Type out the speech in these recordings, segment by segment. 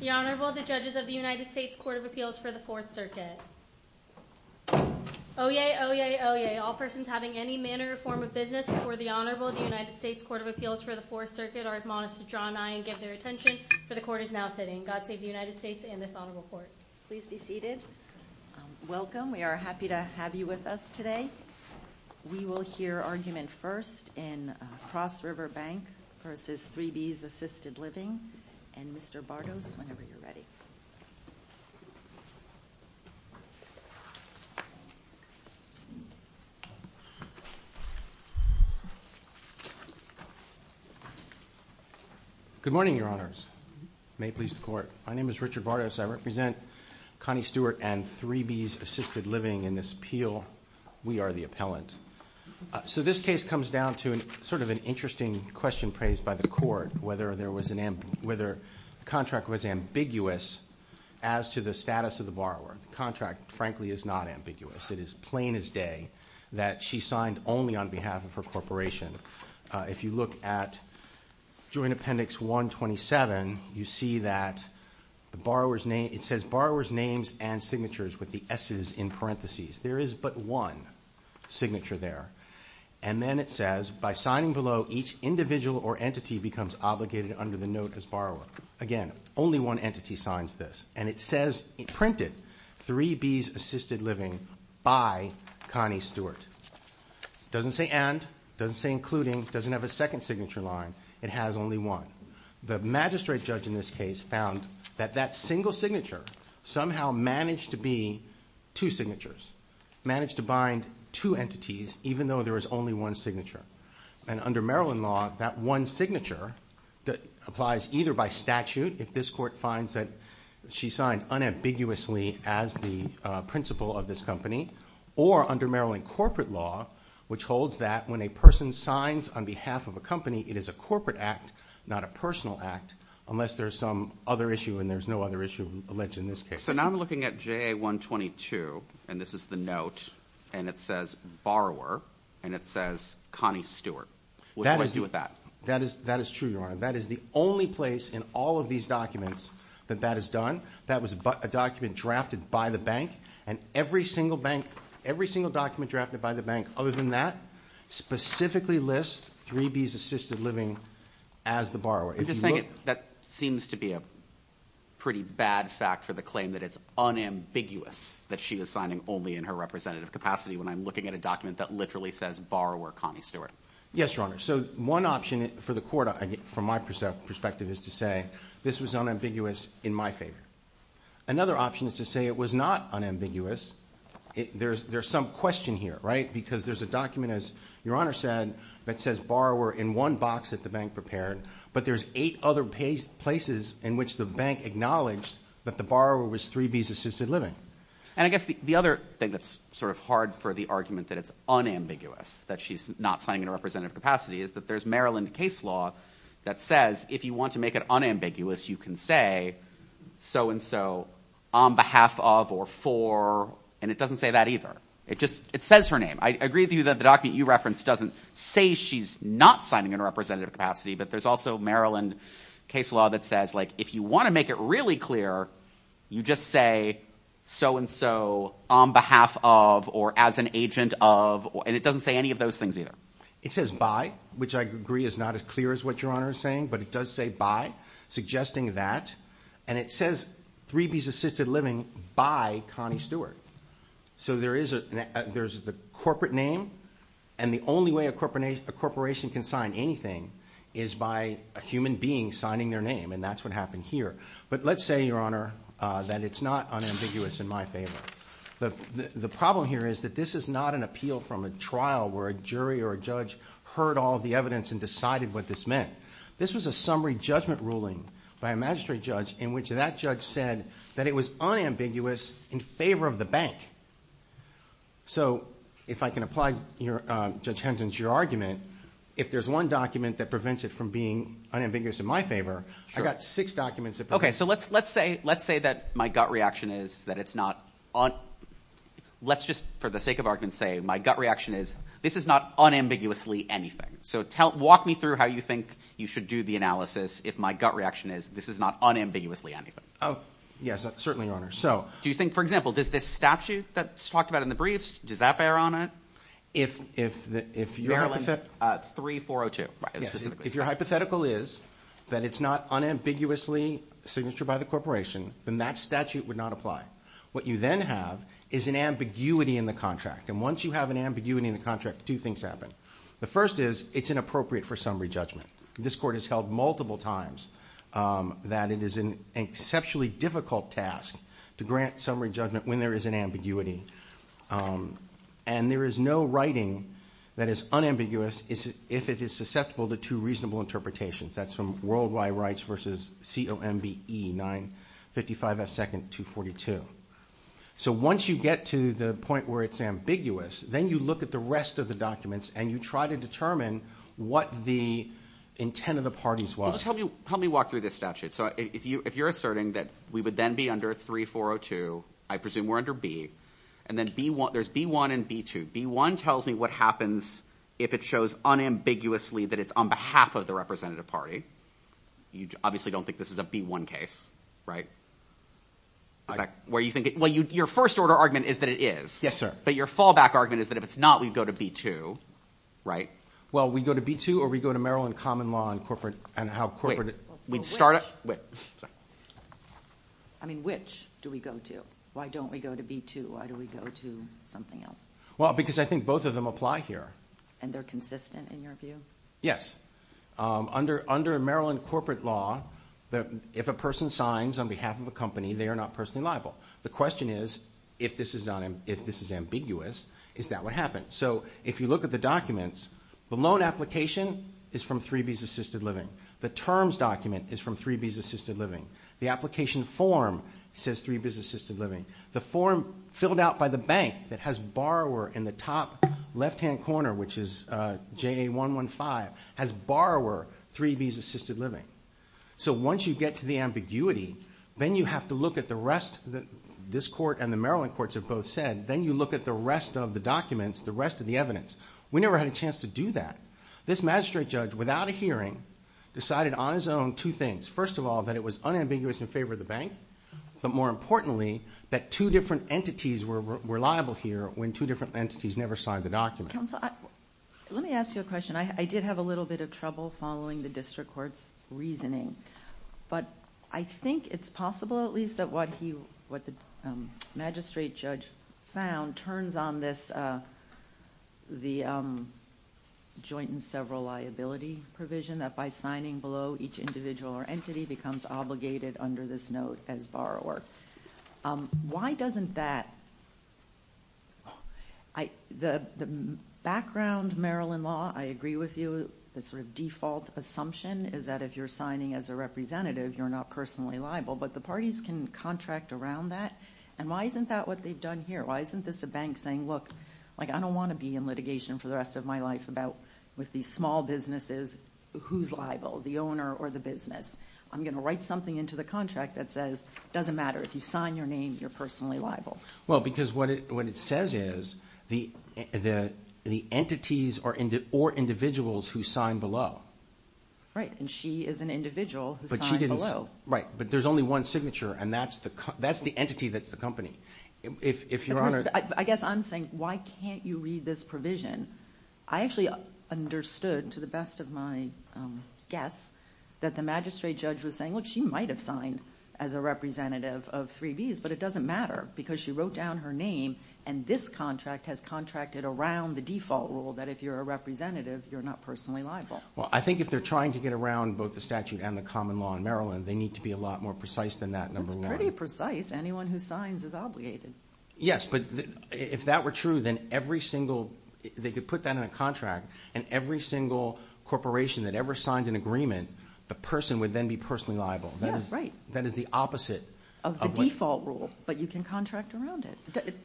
The Honorable, the Judges of the United States Court of Appeals for the Fourth Circuit. Oyez! Oyez! Oyez! All persons having any manner or form of business before the Honorable of the United States Court of Appeals for the Fourth Circuit are admonished to draw an eye and give their attention, for the Court is now sitting. God save the United States and this Honorable Court. Please be seated. Welcome. We are happy to have you with us today. We will hear argument first in Cross River Bank v. 3 Bea's Assisted Living and Mr. Bartos whenever you're ready. Good morning, Your Honors. May it please the Court. My name is Richard Bartos. I represent Connie Stewart and 3 Bea's Assisted Living in this appeal. We are the appellant. So this case comes down to sort of an interesting question raised by the Court whether the contract was ambiguous as to the status of the borrower. The contract, frankly, is not ambiguous. It is plain as day that she signed only on behalf of her corporation. If you look at Joint Appendix 127, you see that it says borrower's names and signatures with the S's in parentheses. There is but one signature there. And then it says, by signing below, each individual or entity becomes obligated under the note as borrower. Again, only one entity signs this. And it says printed, 3 Bea's Assisted Living by Connie Stewart. Doesn't say and, doesn't say including, doesn't have a second signature line. It has only one. The magistrate judge in this case found that that single signature somehow managed to be two signatures. Managed to bind two entities, even though there was only one signature. And under Maryland law, that one signature applies either by statute, if this Court finds that she signed unambiguously as the principal of this company, or under Maryland corporate law, which holds that when a person signs on behalf of a company, it is a corporate act, not a personal act, unless there's some other issue and there's no other issue alleged in this case. Okay, so now I'm looking at JA 122, and this is the note, and it says borrower, and it says Connie Stewart. What do I do with that? That is true, Your Honor. That is the only place in all of these documents that that is done. That was a document drafted by the bank. And every single bank, every single document drafted by the bank other than that, specifically lists 3 Bea's Assisted Living as the borrower. I'm just saying that seems to be a pretty bad fact for the claim that it's unambiguous that she was signing only in her representative capacity when I'm looking at a document that literally says borrower Connie Stewart. Yes, Your Honor. So one option for the Court, from my perspective, is to say this was unambiguous in my favor. Another option is to say it was not unambiguous. There's some question here, right, because there's a document, as Your Honor said, that says borrower in one box that the bank prepared, but there's eight other places in which the bank acknowledged that the borrower was 3 Bea's Assisted Living. And I guess the other thing that's sort of hard for the argument that it's unambiguous that she's not signing in her representative capacity is that there's Maryland case law that says if you want to make it unambiguous, you can say so-and-so on behalf of or for, and it doesn't say that either. It just, it says her name. I agree with you that the document you referenced doesn't say she's not signing in her representative capacity, but there's also Maryland case law that says if you want to make it really clear, you just say so-and-so on behalf of or as an agent of, and it doesn't say any of those things either. It says by, which I agree is not as clear as what Your Honor is saying, but it does say by, suggesting that, and it says 3 Bea's Assisted Living by Connie Stewart. So there is a, there's the corporate name, and the only way a corporation can sign anything is by a human being signing their name, and that's what happened here. But let's say, Your Honor, that it's not unambiguous in my favor. The problem here is that this is not an appeal from a trial where a jury or a judge heard all the evidence and decided what this meant. This was a summary judgment ruling by a magistrate judge in which that judge said that it was unambiguous in favor of the bank. So if I can apply your, Judge Henton's, your argument, if there's one document that prevents it from being unambiguous in my favor, I've got six documents that prevent it from being unambiguous in my favor. Okay, so let's, let's say, let's say that my gut reaction is that it's not un, let's just for the sake of argument say my gut reaction is this is not unambiguously anything. So tell, walk me through how you think you should do the analysis if my gut reaction is this is not unambiguously anything. Oh, yes, certainly, Your Honor. So. Do you think, for example, does this statute that's talked about in the briefs, does that bear on it? If, if, if you're. Maryland 3402. If your hypothetical is that it's not unambiguously signature by the corporation, then that statute would not apply. What you then have is an ambiguity in the contract, and once you have an ambiguity in the contract, two things happen. The first is, it's inappropriate for summary judgment. This court has held multiple times that it is an exceptionally difficult task to grant summary judgment when there is an ambiguity. And there is no writing that is unambiguous, if it is susceptible to two reasonable interpretations, that's from worldwide rights versus COMBE 955 F second 242. So once you get to the point where it's ambiguous, then you look at the rest of the documents and you try to determine what the intent of the parties was. Help me, help me walk through this statute. So if you, if you're asserting that we would then be under 3402, I presume we're under B. And then B1, there's B1 and B2. B1 tells me what happens if it shows unambiguously that it's on behalf of the representative party. You obviously don't think this is a B1 case, right? Where you think it, well, your first order argument is that it is. Yes, sir. But your fallback argument is that if it's not, we'd go to B2, right? Well, we go to B2 or we go to Maryland common law and corporate, and how corporate. Wait, we'd start, wait. I mean, which do we go to? Why don't we go to B2? Why do we go to something else? Well, because I think both of them apply here. And they're consistent in your view? Yes. Under Maryland corporate law, if a person signs on behalf of a company, they are not personally liable. The question is, if this is ambiguous, is that what happens? So if you look at the documents, the loan application is from 3B's Assisted Living. The terms document is from 3B's Assisted Living. The application form says 3B's Assisted Living. The form filled out by the bank that has borrower in the top left-hand corner, which is JA-115, has borrower 3B's Assisted Living. So once you get to the ambiguity, then you have to look at the rest, this court and the Maryland courts have both said, then you look at the rest of the documents, the rest of the evidence. We never had a chance to do that. This magistrate judge, without a hearing, decided on his own two things. First of all, that it was unambiguous in favor of the bank. But more importantly, that two different entities were liable here when two different entities never signed the document. Counsel, let me ask you a question. I did have a little bit of trouble following the district court's reasoning. But I think it's possible, at least, that what the magistrate judge found turns on the joint and several liability provision, that by signing below each individual or entity becomes obligated under this note as borrower. Why doesn't that – the background Maryland law, I agree with you, the sort of default assumption is that if you're signing as a representative, you're not personally liable. But the parties can contract around that. And why isn't that what they've done here? Why isn't this a bank saying, look, I don't want to be in litigation for the rest of my life with these small businesses, who's liable, the owner or the business? I'm going to write something into the contract that says it doesn't matter. If you sign your name, you're personally liable. Well, because what it says is the entities or individuals who signed below. Right, and she is an individual who signed below. Right, but there's only one signature, and that's the entity that's the company. If Your Honor – I guess I'm saying why can't you read this provision? I actually understood, to the best of my guess, that the magistrate judge was saying, look, she might have signed as a representative of 3Bs, but it doesn't matter because she wrote down her name, and this contract has contracted around the default rule that if you're a representative, you're not personally liable. Well, I think if they're trying to get around both the statute and the common law in Maryland, they need to be a lot more precise than that number one. That's pretty precise. Anyone who signs is obligated. Yes, but if that were true, then every single – they could put that in a contract, and every single corporation that ever signed an agreement, the person would then be personally liable. That is the opposite of what – Of the default rule, but you can contract around it.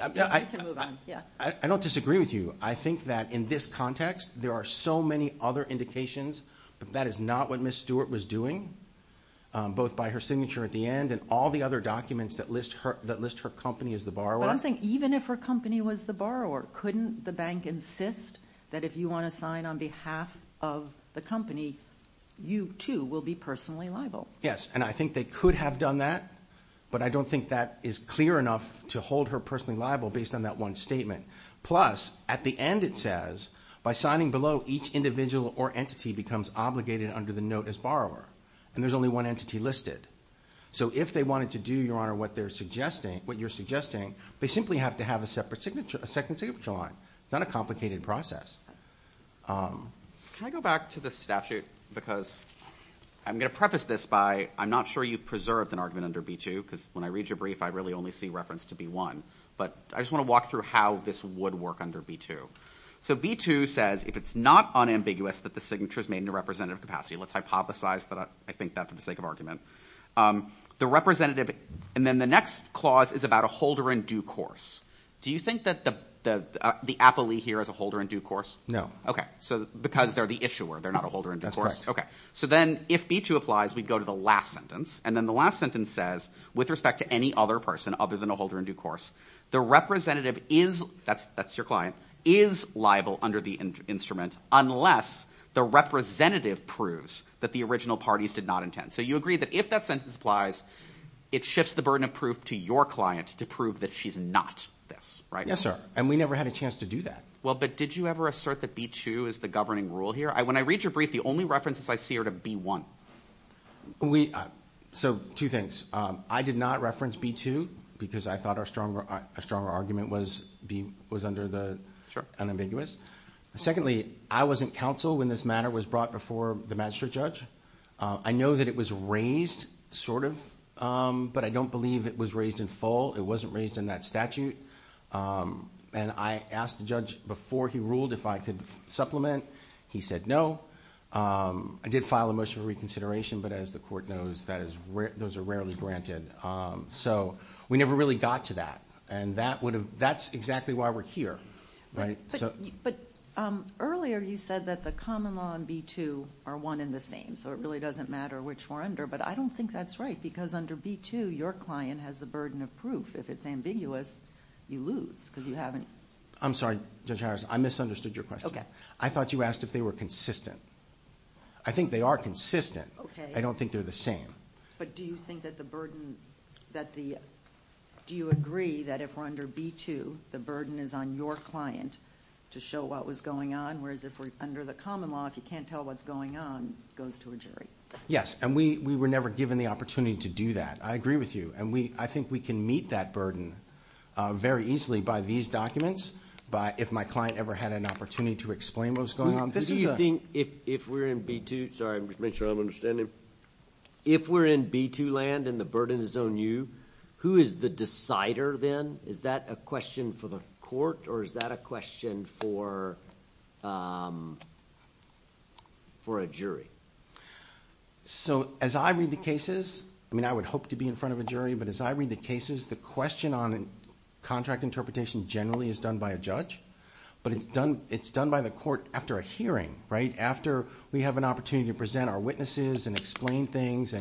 I don't disagree with you. I think that in this context, there are so many other indications, but that is not what Ms. Stewart was doing, both by her signature at the end and all the other documents that list her company as the borrower. But I'm saying even if her company was the borrower, couldn't the bank insist that if you want to sign on behalf of the company, you too will be personally liable? Yes, and I think they could have done that, but I don't think that is clear enough to hold her personally liable based on that one statement. Plus, at the end it says, by signing below, each individual or entity becomes obligated under the note as borrower, and there's only one entity listed. So if they wanted to do, Your Honor, what you're suggesting, they simply have to have a second signature line. It's not a complicated process. Can I go back to the statute because I'm going to preface this by I'm not sure you've preserved an argument under B-2 because when I read your brief, I really only see reference to B-1, but I just want to walk through how this would work under B-2. So B-2 says if it's not unambiguous that the signature is made in a representative capacity, let's hypothesize that I think that for the sake of argument, the representative, and then the next clause is about a holder in due course. Do you think that the appellee here is a holder in due course? No. Okay, so because they're the issuer, they're not a holder in due course. That's correct. Okay, so then if B-2 applies, we'd go to the last sentence, and then the last sentence says with respect to any other person other than a holder in due course, the representative is, that's your client, is liable under the instrument unless the representative proves that the original parties did not intend. So you agree that if that sentence applies, it shifts the burden of proof to your client to prove that she's not this, right? Yes, sir, and we never had a chance to do that. Well, but did you ever assert that B-2 is the governing rule here? When I read your brief, the only references I see are to B-1. So two things. I did not reference B-2 because I thought a stronger argument was under the unambiguous. Secondly, I wasn't counsel when this matter was brought before the magistrate judge. I know that it was raised, sort of, but I don't believe it was raised in full. It wasn't raised in that statute, and I asked the judge before he ruled if I could supplement. He said no. I did file a motion for reconsideration, but as the court knows, those are rarely granted. So we never really got to that, and that's exactly why we're here, right? But earlier you said that the common law and B-2 are one and the same, so it really doesn't matter which we're under, but I don't think that's right because under B-2, your client has the burden of proof. If it's ambiguous, you lose because you haven't. I'm sorry, Judge Harris. I misunderstood your question. I thought you asked if they were consistent. I think they are consistent. I don't think they're the same. But do you agree that if we're under B-2, the burden is on your client to show what was going on, whereas if we're under the common law, if you can't tell what's going on, it goes to a jury? Yes, and we were never given the opportunity to do that. I agree with you, and I think we can meet that burden very easily by these documents, if my client ever had an opportunity to explain what was going on. If we're in B-2 land and the burden is on you, who is the decider then? Is that a question for the court or is that a question for a jury? As I read the cases, I would hope to be in front of a jury, but as I read the cases, the question on contract interpretation generally is done by a judge, but it's done by the court after a hearing, right? After we have an opportunity to present our witnesses and explain things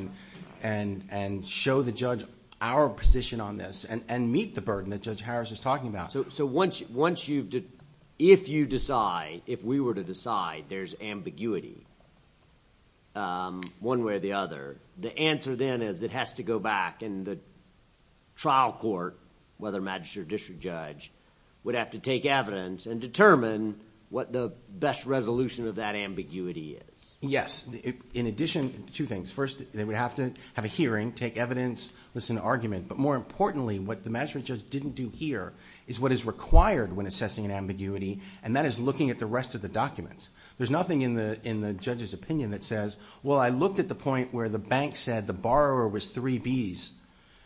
and show the judge our position on this and meet the burden that Judge Harris is talking about. So if you decide, if we were to decide there's ambiguity one way or the other, the answer then is it has to go back and the trial court, whether magistrate or district judge, would have to take evidence and determine what the best resolution of that ambiguity is. Yes. In addition, two things. First, they would have to have a hearing, take evidence, listen to argument, but more importantly, what the magistrate judge didn't do here is what is required when assessing an ambiguity, and that is looking at the rest of the documents. There's nothing in the judge's opinion that says, well, I looked at the point where the bank said the borrower was 3B's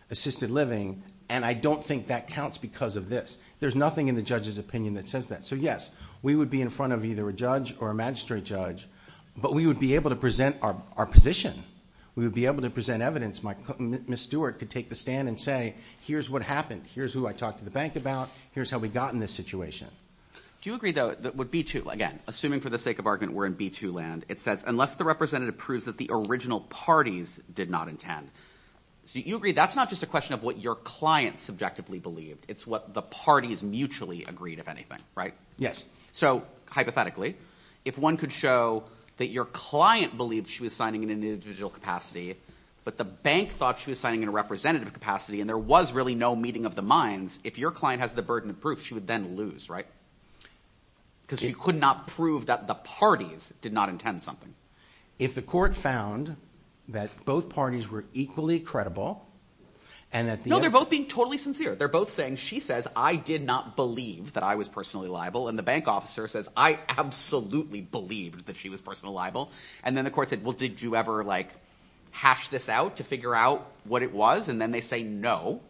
assisted living, and I don't think that counts because of this. There's nothing in the judge's opinion that says that. So yes, we would be in front of either a judge or a magistrate judge, but we would be able to present our position. We would be able to present evidence. Ms. Stewart could take the stand and say, here's what happened. Here's who I talked to the bank about. Here's how we got in this situation. Do you agree, though, that with B2, again, assuming for the sake of argument we're in B2 land, it says unless the representative proves that the original parties did not intend. So you agree that's not just a question of what your client subjectively believed. It's what the parties mutually agreed, if anything, right? Yes. So hypothetically, if one could show that your client believed she was signing in an individual capacity but the bank thought she was signing in a representative capacity and there was really no meeting of the minds, if your client has the burden of proof, she would then lose, right? Because she could not prove that the parties did not intend something. If the court found that both parties were equally credible and that the other... No, they're both being totally sincere. They're both saying she says I did not believe that I was personally liable and the bank officer says I absolutely believed that she was personally liable and then the court said, well, did you ever, like, hash this out to figure out what it was? And then they say no.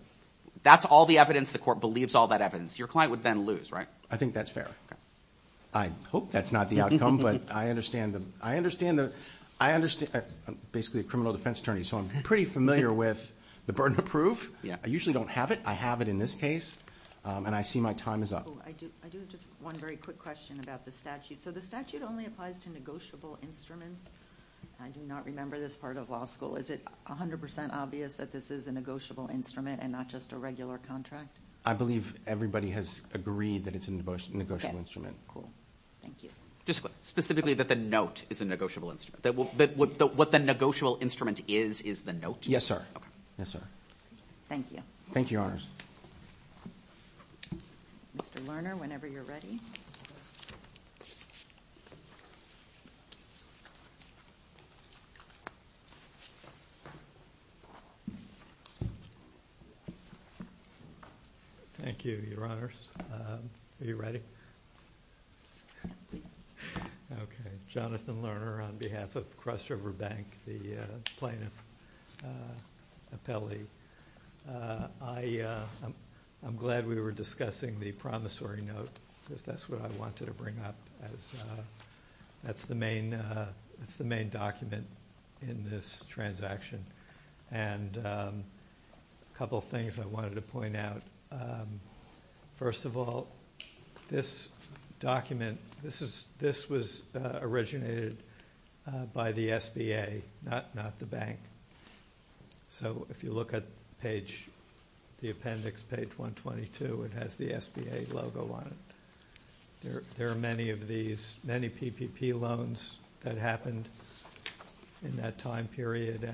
That's all the evidence the court believes, all that evidence. Your client would then lose, right? I think that's fair. I hope that's not the outcome, but I understand the... I'm basically a criminal defense attorney, so I'm pretty familiar with the burden of proof. I usually don't have it. I have it in this case, and I see my time is up. I do have just one very quick question about the statute. So the statute only applies to negotiable instruments. I do not remember this part of law school. Is it 100% obvious that this is a negotiable instrument and not just a regular contract? I believe everybody has agreed that it's a negotiable instrument. Thank you. Just specifically that the note is a negotiable instrument, that what the negotiable instrument is is the note? Yes, sir. Yes, sir. Thank you. Thank you, Your Honors. Mr. Lerner, whenever you're ready. Thank you, Your Honors. Are you ready? Okay. Jonathan Lerner on behalf of Cross River Bank, the plaintiff appellee. I'm glad we were discussing the promissory note because that's what I wanted to bring up. That's the main document in this transaction. And a couple of things I wanted to point out. First of all, this document, this was originated by the SBA, not the bank. So if you look at the appendix, page 122, it has the SBA logo on it. There are many of these, many PPP loans that happened in that time period.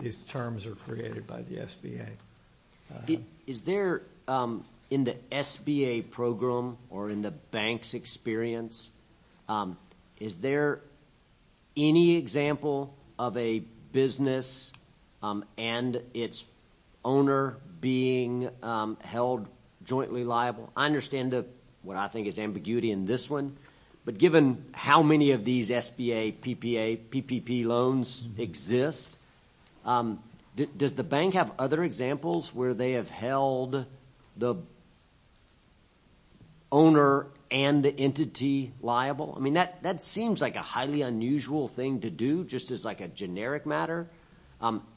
These terms are created by the SBA. Is there in the SBA program or in the bank's experience, is there any example of a business and its owner being held jointly liable? I understand what I think is ambiguity in this one, but given how many of these SBA, PPA, PPP loans exist, does the bank have other examples where they have held the owner and the entity liable? I mean, that seems like a highly unusual thing to do just as like a generic matter,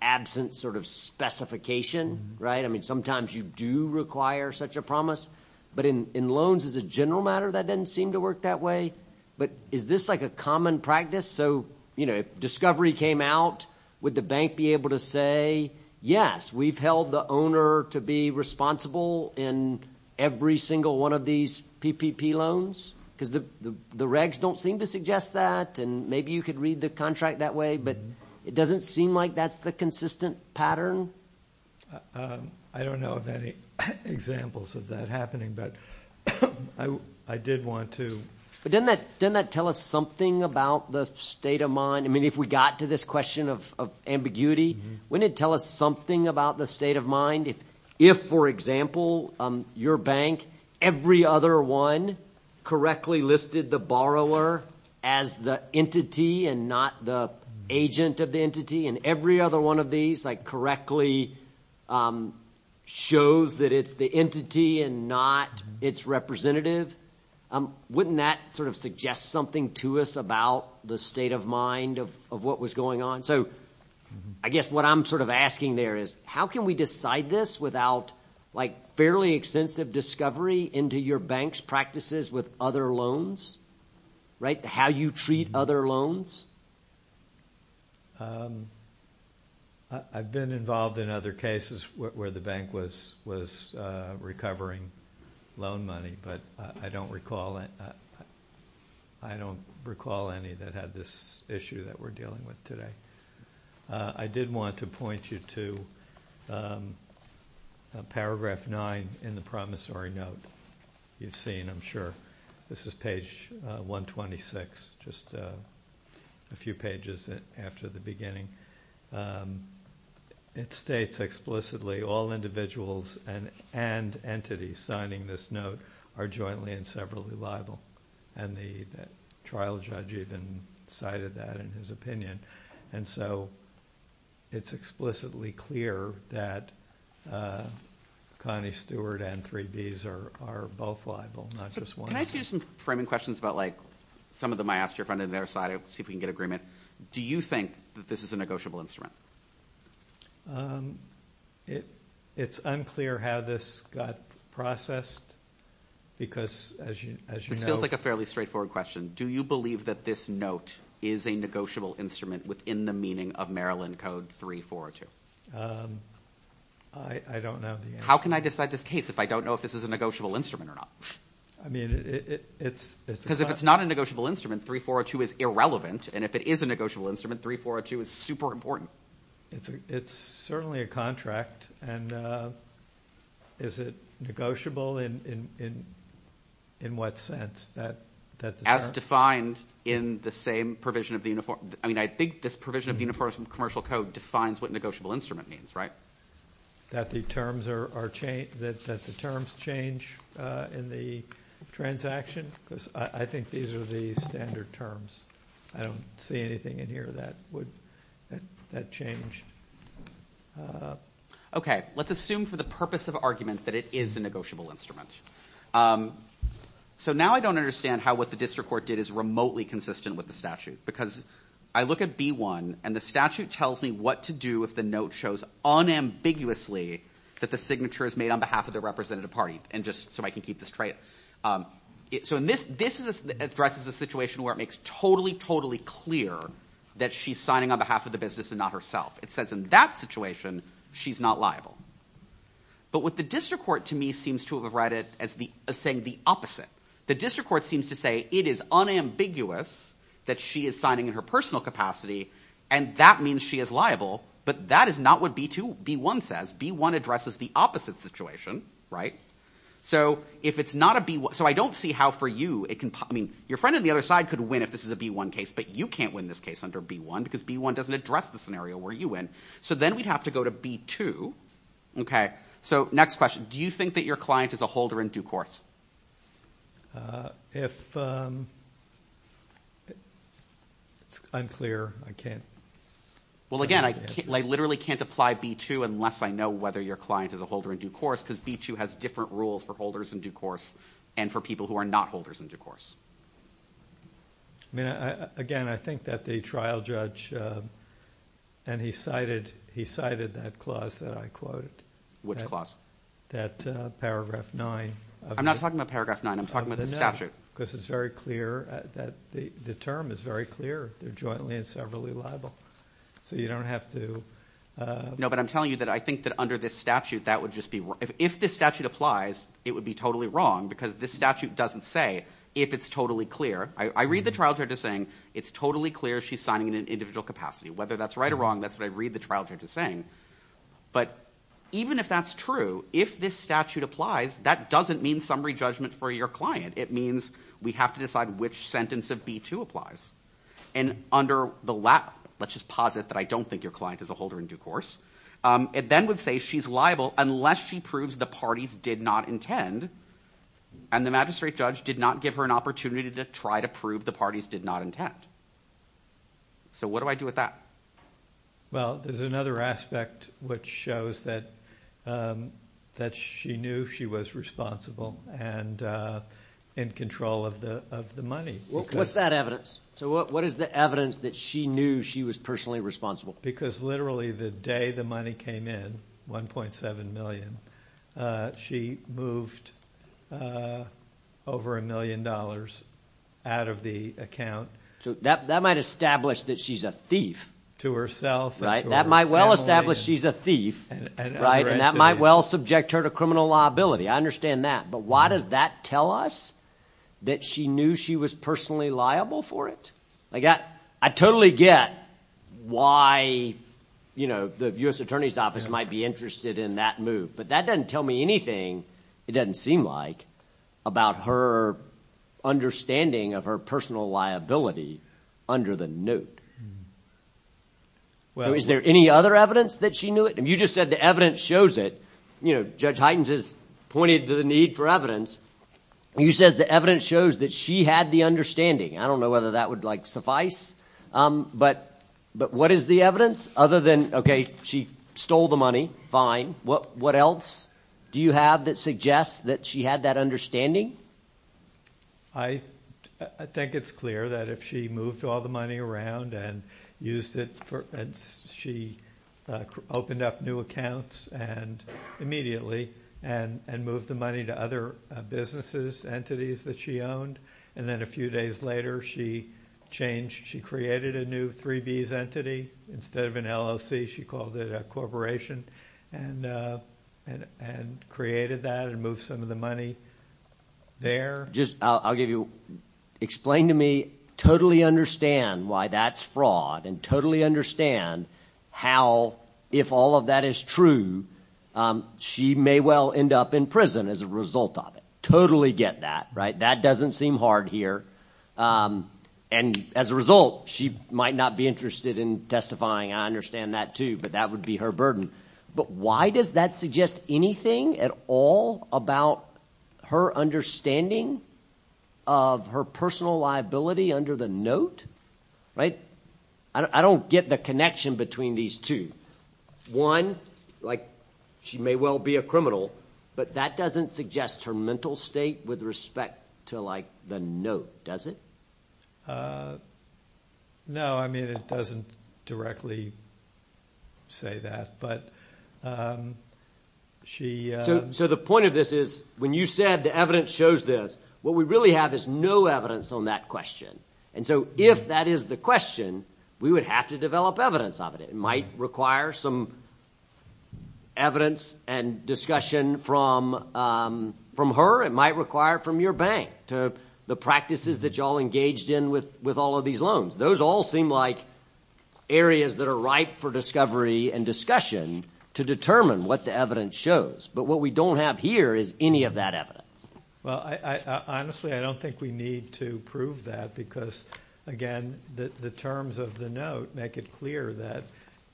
absent sort of specification, right? I mean, sometimes you do require such a promise, but in loans as a general matter, that doesn't seem to work that way. But is this like a common practice? So if discovery came out, would the bank be able to say, yes, we've held the owner to be responsible in every single one of these PPP loans? Because the regs don't seem to suggest that, and maybe you could read the contract that way, but it doesn't seem like that's the consistent pattern. I don't know of any examples of that happening, but I did want to. But doesn't that tell us something about the state of mind? I mean, if we got to this question of ambiguity, wouldn't it tell us something about the state of mind if, for example, your bank, every other one correctly listed the borrower as the entity and not the agent of the entity, and every other one of these correctly shows that it's the entity and not its representative? Wouldn't that sort of suggest something to us about the state of mind of what was going on? So I guess what I'm sort of asking there is, how can we decide this without fairly extensive discovery into your bank's practices with other loans, right, how you treat other loans? I've been involved in other cases where the bank was recovering loan money, but I don't recall any that had this issue that we're dealing with today. I did want to point you to paragraph 9 in the promissory note you've seen, I'm sure. This is page 126, just a few pages after the beginning. It states explicitly, all individuals and entities signing this note are jointly and severally liable. And the trial judge even cited that in his opinion. And so it's explicitly clear that Connie Stewart and 3B's are both liable, not just one. Can I ask you some framing questions about, like, some of them I asked your friend on the other side, see if we can get agreement. Do you think that this is a negotiable instrument? It's unclear how this got processed, because as you know... This feels like a fairly straightforward question. Do you believe that this note is a negotiable instrument within the meaning of Maryland Code 3402? I don't know the answer. How can I decide this case if I don't know if this is a negotiable instrument or not? Because if it's not a negotiable instrument, 3402 is irrelevant, and if it is a negotiable instrument, 3402 is super important. It's certainly a contract, and is it negotiable in what sense? As defined in the same provision of the Uniform... I mean, I think this provision of the Uniform Commercial Code defines what negotiable instrument means, right? That the terms change in the transaction? Because I think these are the standard terms. I don't see anything in here that would... that change. Okay, let's assume for the purpose of argument that it is a negotiable instrument. So now I don't understand how what the district court did is remotely consistent with the statute. Because I look at B1, and the statute tells me what to do if the note shows unambiguously that the signature is made on behalf of the representative party. And just so I can keep this straight... So this addresses a situation where it makes totally, totally clear that she's signing on behalf of the business and not herself. It says in that situation, she's not liable. But what the district court, to me, seems to have read it as saying the opposite. The district court seems to say it is unambiguous that she is signing in her personal capacity, and that means she is liable. But that is not what B1 says. B1 addresses the opposite situation, right? So if it's not a B1... So I don't see how for you it can... I mean, your friend on the other side could win if this is a B1 case, but you can't win this case under B1, because B1 doesn't address the scenario where you win. So then we'd have to go to B2. So, next question. Do you think that your client is a holder in due course? If... It's unclear. I can't... Well, again, I literally can't apply B2 unless I know whether your client is a holder in due course, because B2 has different rules for holders in due course and for people who are not holders in due course. I mean, again, I think that the trial judge... And he cited that clause that I quoted. Which clause? That paragraph 9. I'm not talking about paragraph 9. I'm talking about the statute. No, because it's very clear that... The term is very clear. They're jointly and severally liable. So you don't have to... No, but I'm telling you that I think that under this statute, that would just be... If this statute applies, it would be totally wrong, because this statute doesn't say if it's totally clear. I read the trial judge as saying, it's totally clear she's signing in an individual capacity. Whether that's right or wrong, that's what I read the trial judge as saying. But even if that's true, if this statute applies, that doesn't mean summary judgment for your client. It means we have to decide which sentence of B2 applies. And under the... Let's just posit that I don't think your client is a holder in due course. It then would say she's liable unless she proves the parties did not intend, and the magistrate judge did not give her an opportunity to try to prove the parties did not intend. So what do I do with that? Well, there's another aspect which shows that she knew she was responsible and in control of the money. What's that evidence? So what is the evidence that she knew she was personally responsible? Because literally the day the money came in, $1.7 million, she moved over $1 million out of the account. So that might establish that she's a thief. To herself and to her family. That might well establish she's a thief. And that might well subject her to criminal liability. I understand that. But why does that tell us that she knew she was personally liable for it? I totally get why the U.S. Attorney's Office might be interested in that move. But that doesn't tell me anything, it doesn't seem like, about her understanding of her personal liability under the note. Is there any other evidence that she knew it? You just said the evidence shows it. Judge Huytens has pointed to the need for evidence. You said the evidence shows that she had the understanding. I don't know whether that would suffice. But what is the evidence other than, okay, she stole the money, fine. What else do you have that suggests that she had that understanding? I think it's clear that if she moved all the money around and used it for, and she opened up new accounts, and immediately, and moved the money to other businesses, entities that she owned, and then a few days later she changed, she created a new 3Bs entity. Instead of an LLC, she called it a corporation, and created that and moved some of the money there. I'll give you, explain to me, totally understand why that's fraud, and totally understand how, if all of that is true, she may well end up in prison as a result of it. Totally get that, right? That doesn't seem hard here. As a result, she might not be interested in testifying. I understand that too, but that would be her burden. But why does that suggest anything at all about her understanding of her personal liability under the note? I don't get the connection between these two. One, she may well be a criminal, but that doesn't suggest her mental state with respect to the note, does it? No, it doesn't directly say that. The point of this is, when you said the evidence shows this, what we really have is no evidence on that question. If that is the question, we would have to develop evidence of it. It might require some evidence and discussion from her. It might require from your bank, the practices that you all engaged in with all of these loans. Those all seem like areas that are ripe for discovery and discussion to determine what the evidence shows. But what we don't have here is any of that evidence. Honestly, I don't think we need to prove that because, again, the terms of the note make it clear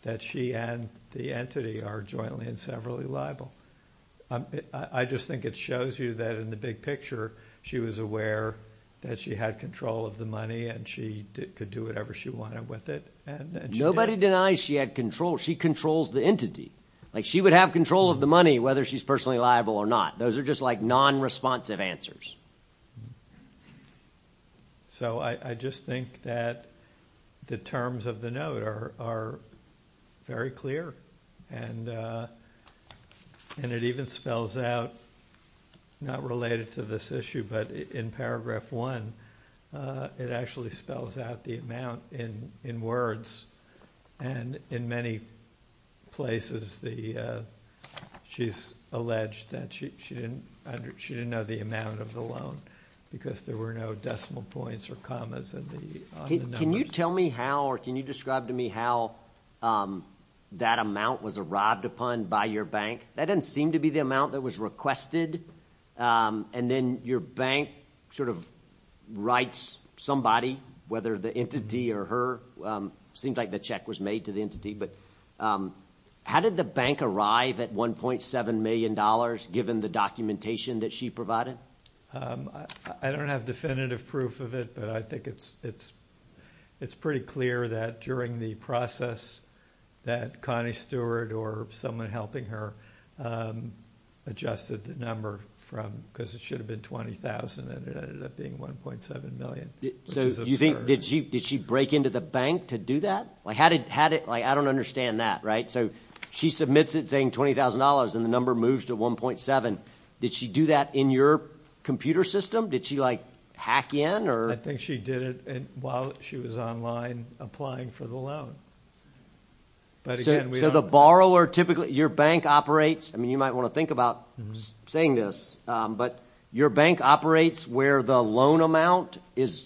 that she and the entity are jointly and severally liable. I just think it shows you that in the big picture, she was aware that she had control of the money and she could do whatever she wanted with it. Nobody denies she had control. She controls the entity. Like, she would have control of the money, whether she's personally liable or not. Those are just like non-responsive answers. So I just think that the terms of the note are very clear. And it even spells out, not related to this issue, but in Paragraph 1, it actually spells out the amount in words. And in many places, she's alleged that she didn't know the amount of the loan because there were no decimal points or commas on the numbers. Can you tell me how or can you describe to me how that amount was arrived upon by your bank? That didn't seem to be the amount that was requested. And then your bank sort of writes somebody, whether the entity or her. It seemed like the check was made to the entity. But how did the bank arrive at $1.7 million, given the documentation that she provided? I don't have definitive proof of it, but I think it's pretty clear that during the process that Connie Stewart or someone helping her adjusted the number from because it should have been $20,000, and it ended up being $1.7 million. So you think, did she break into the bank to do that? Like, I don't understand that, right? So she submits it saying $20,000, and the number moves to $1.7. Did she do that in your computer system? Did she, like, hack in? I think she did it while she was online applying for the loan. So the borrower typically, your bank operates, I mean you might want to think about saying this, but your bank operates where the loan amount is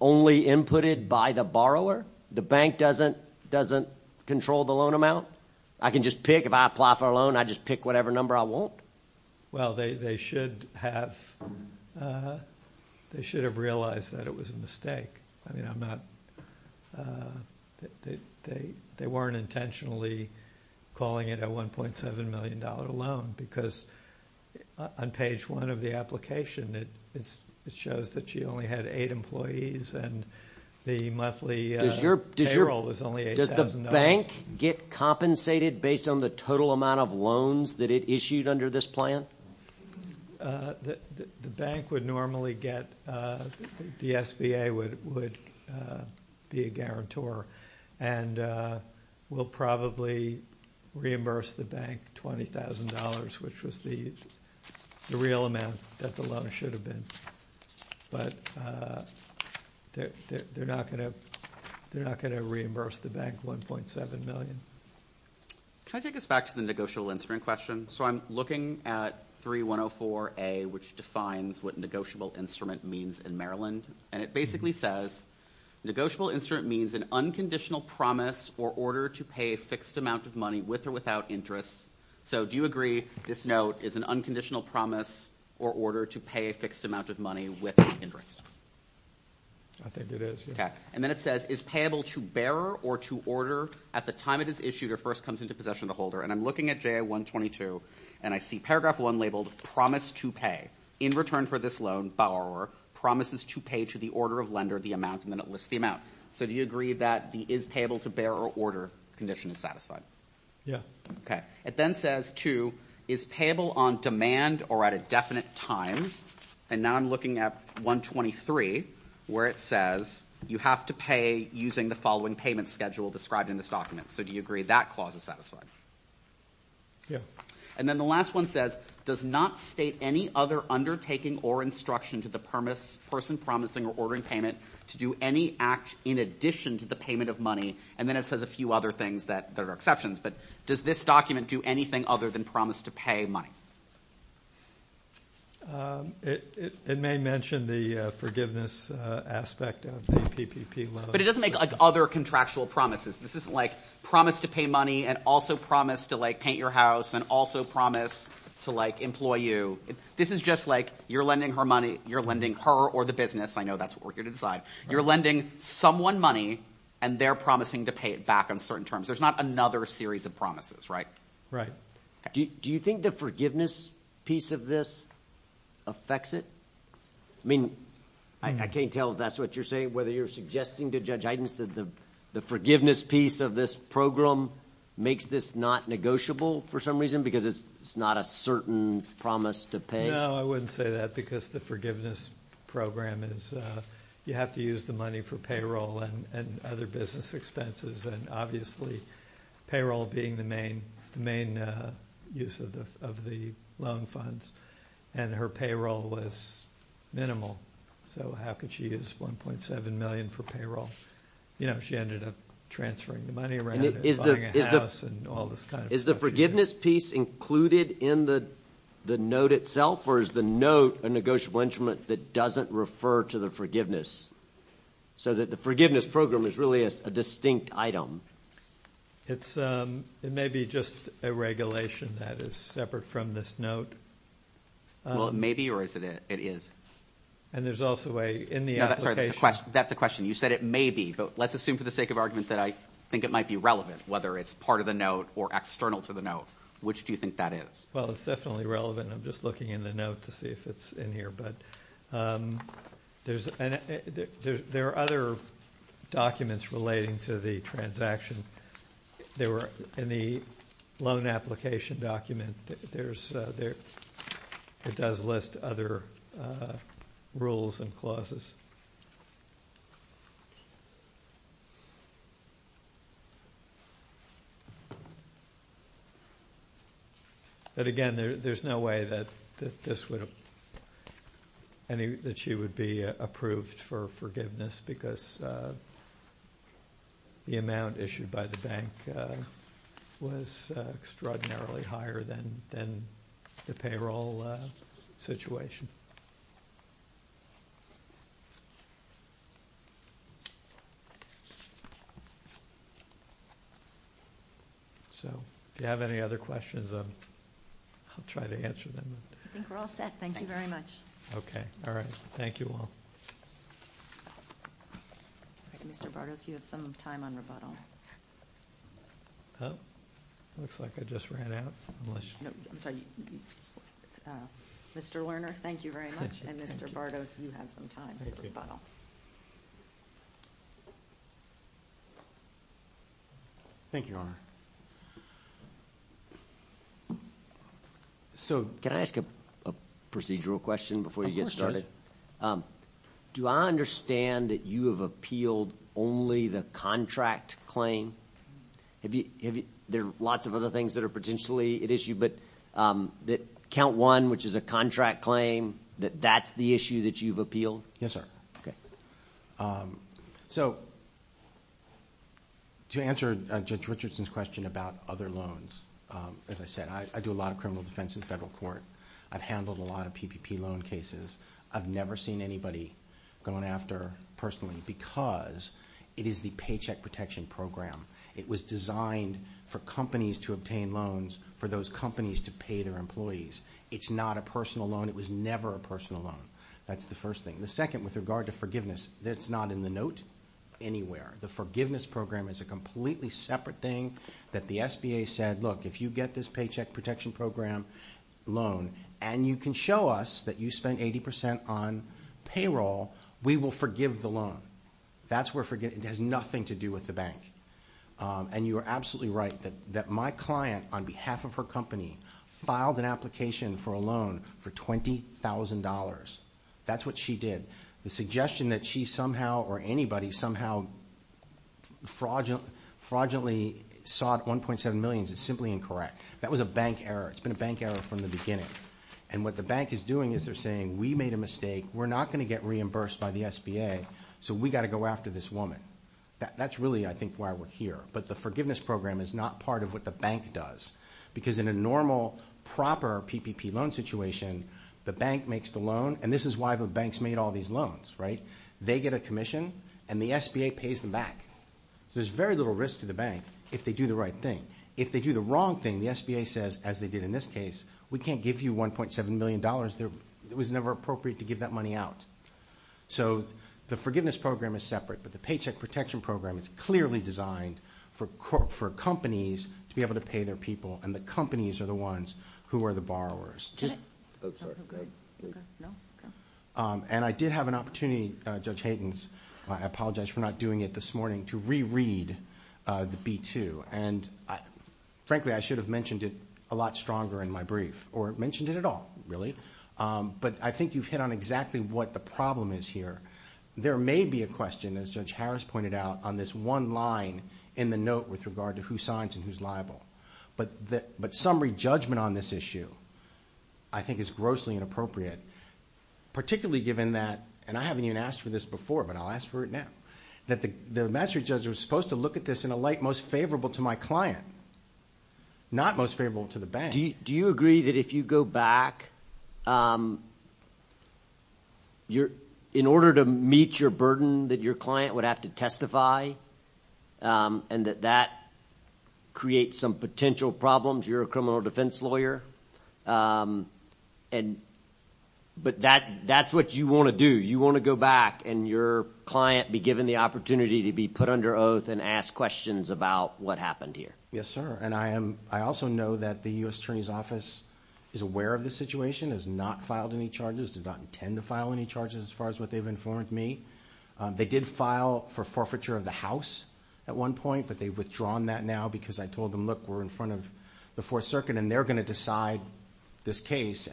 only inputted by the borrower? The bank doesn't control the loan amount? I can just pick, if I apply for a loan, I just pick whatever number I want? Well, they should have realized that it was a mistake. I mean, they weren't intentionally calling it a $1.7 million loan because on page one of the application it shows that she only had eight employees and the monthly payroll was only $8,000. Does the bank get compensated based on the total amount of loans that it issued under this plan? The bank would normally get, the SBA would be a guarantor and will probably reimburse the bank $20,000, which was the real amount that the loan should have been. But they're not going to reimburse the bank $1.7 million. Can I take us back to the negotiable instrument question? So I'm looking at 3104A, which defines what a negotiable instrument means in Maryland, and it basically says, negotiable instrument means an unconditional promise or order to pay a fixed amount of money with or without interest. So do you agree this note is an unconditional promise or order to pay a fixed amount of money with interest? I think it is. And then it says, is payable to bearer or to order at the time it is issued or first comes into possession of the holder? And I'm looking at JA-122, and I see paragraph 1 labeled promise to pay in return for this loan, promises to pay to the order of lender the amount, and then it lists the amount. So do you agree that the is payable to bearer or order condition is satisfied? Yeah. Okay. It then says, too, is payable on demand or at a definite time? And now I'm looking at 123, where it says, you have to pay using the following payment schedule described in this document. So do you agree that clause is satisfied? Yeah. And then the last one says, does not state any other undertaking or instruction to the person promising or ordering payment to do any act in addition to the payment of money, and then it says a few other things that are exceptions, but does this document do anything other than promise to pay money? It may mention the forgiveness aspect of the PPP loan. But it doesn't make, like, other contractual promises. This isn't, like, promise to pay money and also promise to, like, paint your house and also promise to, like, employ you. This is just, like, you're lending her money, you're lending her or the business. I know that's what we're here to decide. You're lending someone money, and they're promising to pay it back on certain terms. There's not another series of promises, right? Right. Do you think the forgiveness piece of this affects it? I mean, I can't tell if that's what you're saying, whether you're suggesting to Judge Eidens that the forgiveness piece of this program makes this not negotiable for some reason because it's not a certain promise to pay. No, I wouldn't say that because the forgiveness program is you have to use the money for payroll and other business expenses, and obviously payroll being the main use of the loan funds, and her payroll was minimal, so how could she use $1.7 million for payroll? You know, she ended up transferring the money around and buying a house and all this kind of stuff. Is the forgiveness piece included in the note itself, or is the note a negotiable instrument that doesn't refer to the forgiveness so that the forgiveness program is really a distinct item? It may be just a regulation that is separate from this note. Well, it may be, or is it? It is. And there's also a in the application. No, that's a question. You said it may be, but let's assume for the sake of argument that I think it might be relevant, whether it's part of the note or external to the note. Which do you think that is? Well, it's definitely relevant. I'm just looking in the note to see if it's in here. There are other documents relating to the transaction. In the loan application document, it does list other rules and clauses. But again, there's no way that she would be approved for forgiveness because the amount issued by the bank was extraordinarily higher than the payroll situation. So if you have any other questions, I'll try to answer them. I think we're all set. Thank you very much. Okay. All right. Thank you all. Mr. Bardos, you have some time on rebuttal. Looks like I just ran out. I'm sorry. Mr. Lerner, thank you very much. And Mr. Bardos, you have some time for rebuttal. Thank you, Your Honor. So can I ask a procedural question before you get started? Go ahead. Do I understand that you have appealed only the contract claim? There are lots of other things that are potentially at issue, but that count one, which is a contract claim, that that's the issue that you've appealed? Yes, sir. So to answer Judge Richardson's question about other loans, as I said, I do a lot of criminal defense in federal court. I've handled a lot of PPP loan cases. I've never seen anybody going after personally because it is the Paycheck Protection Program. It was designed for companies to obtain loans for those companies to pay their employees. It's not a personal loan. It was never a personal loan. That's the first thing. The second, with regard to forgiveness, that's not in the note anywhere. The forgiveness program is a completely separate thing that the SBA said, Look, if you get this Paycheck Protection Program loan and you can show us that you spent 80% on payroll, we will forgive the loan. It has nothing to do with the bank. And you are absolutely right that my client, on behalf of her company, filed an application for a loan for $20,000. That's what she did. The suggestion that she somehow or anybody somehow fraudulently sought $1.7 million is simply incorrect. That was a bank error. It's been a bank error from the beginning. And what the bank is doing is they're saying, We made a mistake. We're not going to get reimbursed by the SBA, so we've got to go after this woman. That's really, I think, why we're here. But the forgiveness program is not part of what the bank does because in a normal, proper PPP loan situation, the bank makes the loan, and this is why the banks made all these loans, right? They get a commission, and the SBA pays them back. There's very little risk to the bank if they do the right thing. If they do the wrong thing, the SBA says, as they did in this case, We can't give you $1.7 million. It was never appropriate to give that money out. So the forgiveness program is separate, but the paycheck protection program is clearly designed for companies to be able to pay their people, and the companies are the ones who are the borrowers. And I did have an opportunity, Judge Hayden, and I apologize for not doing it this morning, to reread the B-2. Frankly, I should have mentioned it a lot stronger in my brief, or mentioned it at all, really. But I think you've hit on exactly what the problem is here. There may be a question, as Judge Harris pointed out, on this one line in the note with regard to who signs and who's liable. But summary judgment on this issue, I think, is grossly inappropriate, particularly given that, and I haven't even asked for this before, but I'll ask for it now, that the magistrate judge was supposed to look at this in a light most favorable to my client, not most favorable to the bank. Do you agree that if you go back, in order to meet your burden, that your client would have to testify, and that that creates some potential problems? You're a criminal defense lawyer. But that's what you want to do. You want to go back and your client be given the opportunity to be put under oath and ask questions about what happened here. Yes, sir, and I also know that the U.S. Attorney's Office is aware of the situation, has not filed any charges, did not intend to file any charges as far as what they've informed me. They did file for forfeiture of the house at one point, but they've withdrawn that now because I told them, look, we're in front of the Fourth Circuit, and they're going to decide this case.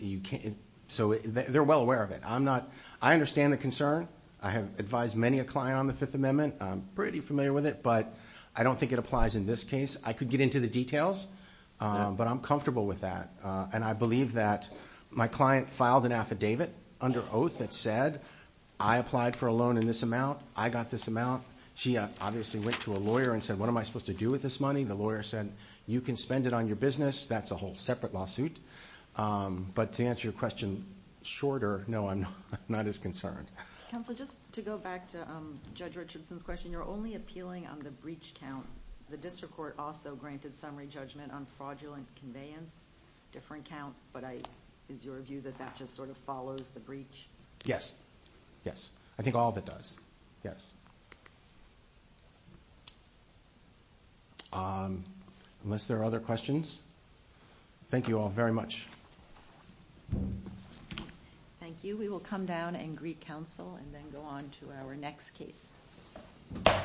They're well aware of it. I understand the concern. I have advised many a client on the Fifth Amendment. I'm pretty familiar with it, but I don't think it applies in this case. I could get into the details, but I'm comfortable with that, and I believe that my client filed an affidavit under oath that said I applied for a loan in this amount, I got this amount. She obviously went to a lawyer and said, what am I supposed to do with this money? The lawyer said, you can spend it on your business. That's a whole separate lawsuit. But to answer your question shorter, no, I'm not as concerned. Counsel, just to go back to Judge Richardson's question, you're only appealing on the breach count. The district court also granted summary judgment on fraudulent conveyance, different count, but is your view that that just sort of follows the breach? Yes, yes, I think all of it does. Yes. Unless there are other questions. Thank you all very much. Thank you. We will come down and greet counsel and then go on to our next case. Thank you. Thank you.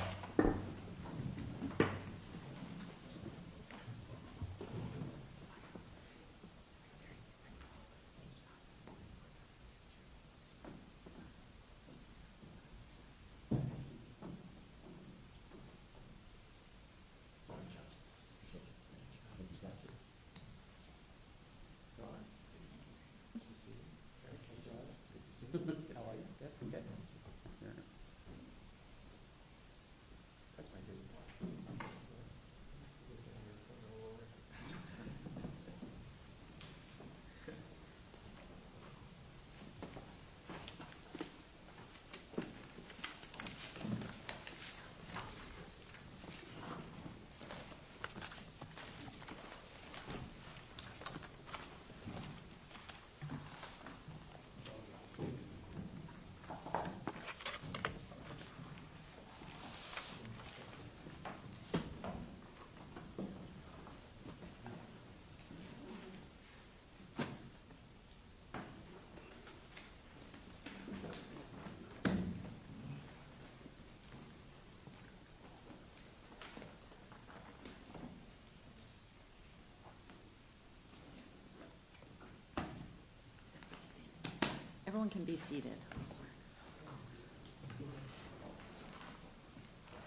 Thank you. Everyone can be seated.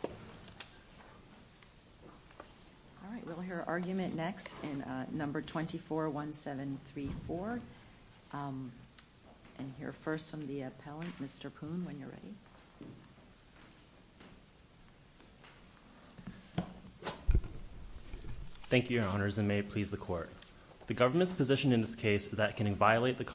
All right, we'll hear argument next in number 241734. And hear first from the appellant, Mr. Poon, when you're ready. Thank you, Your Honors, and may it please the court. The government's position in this case that can violate the Constitution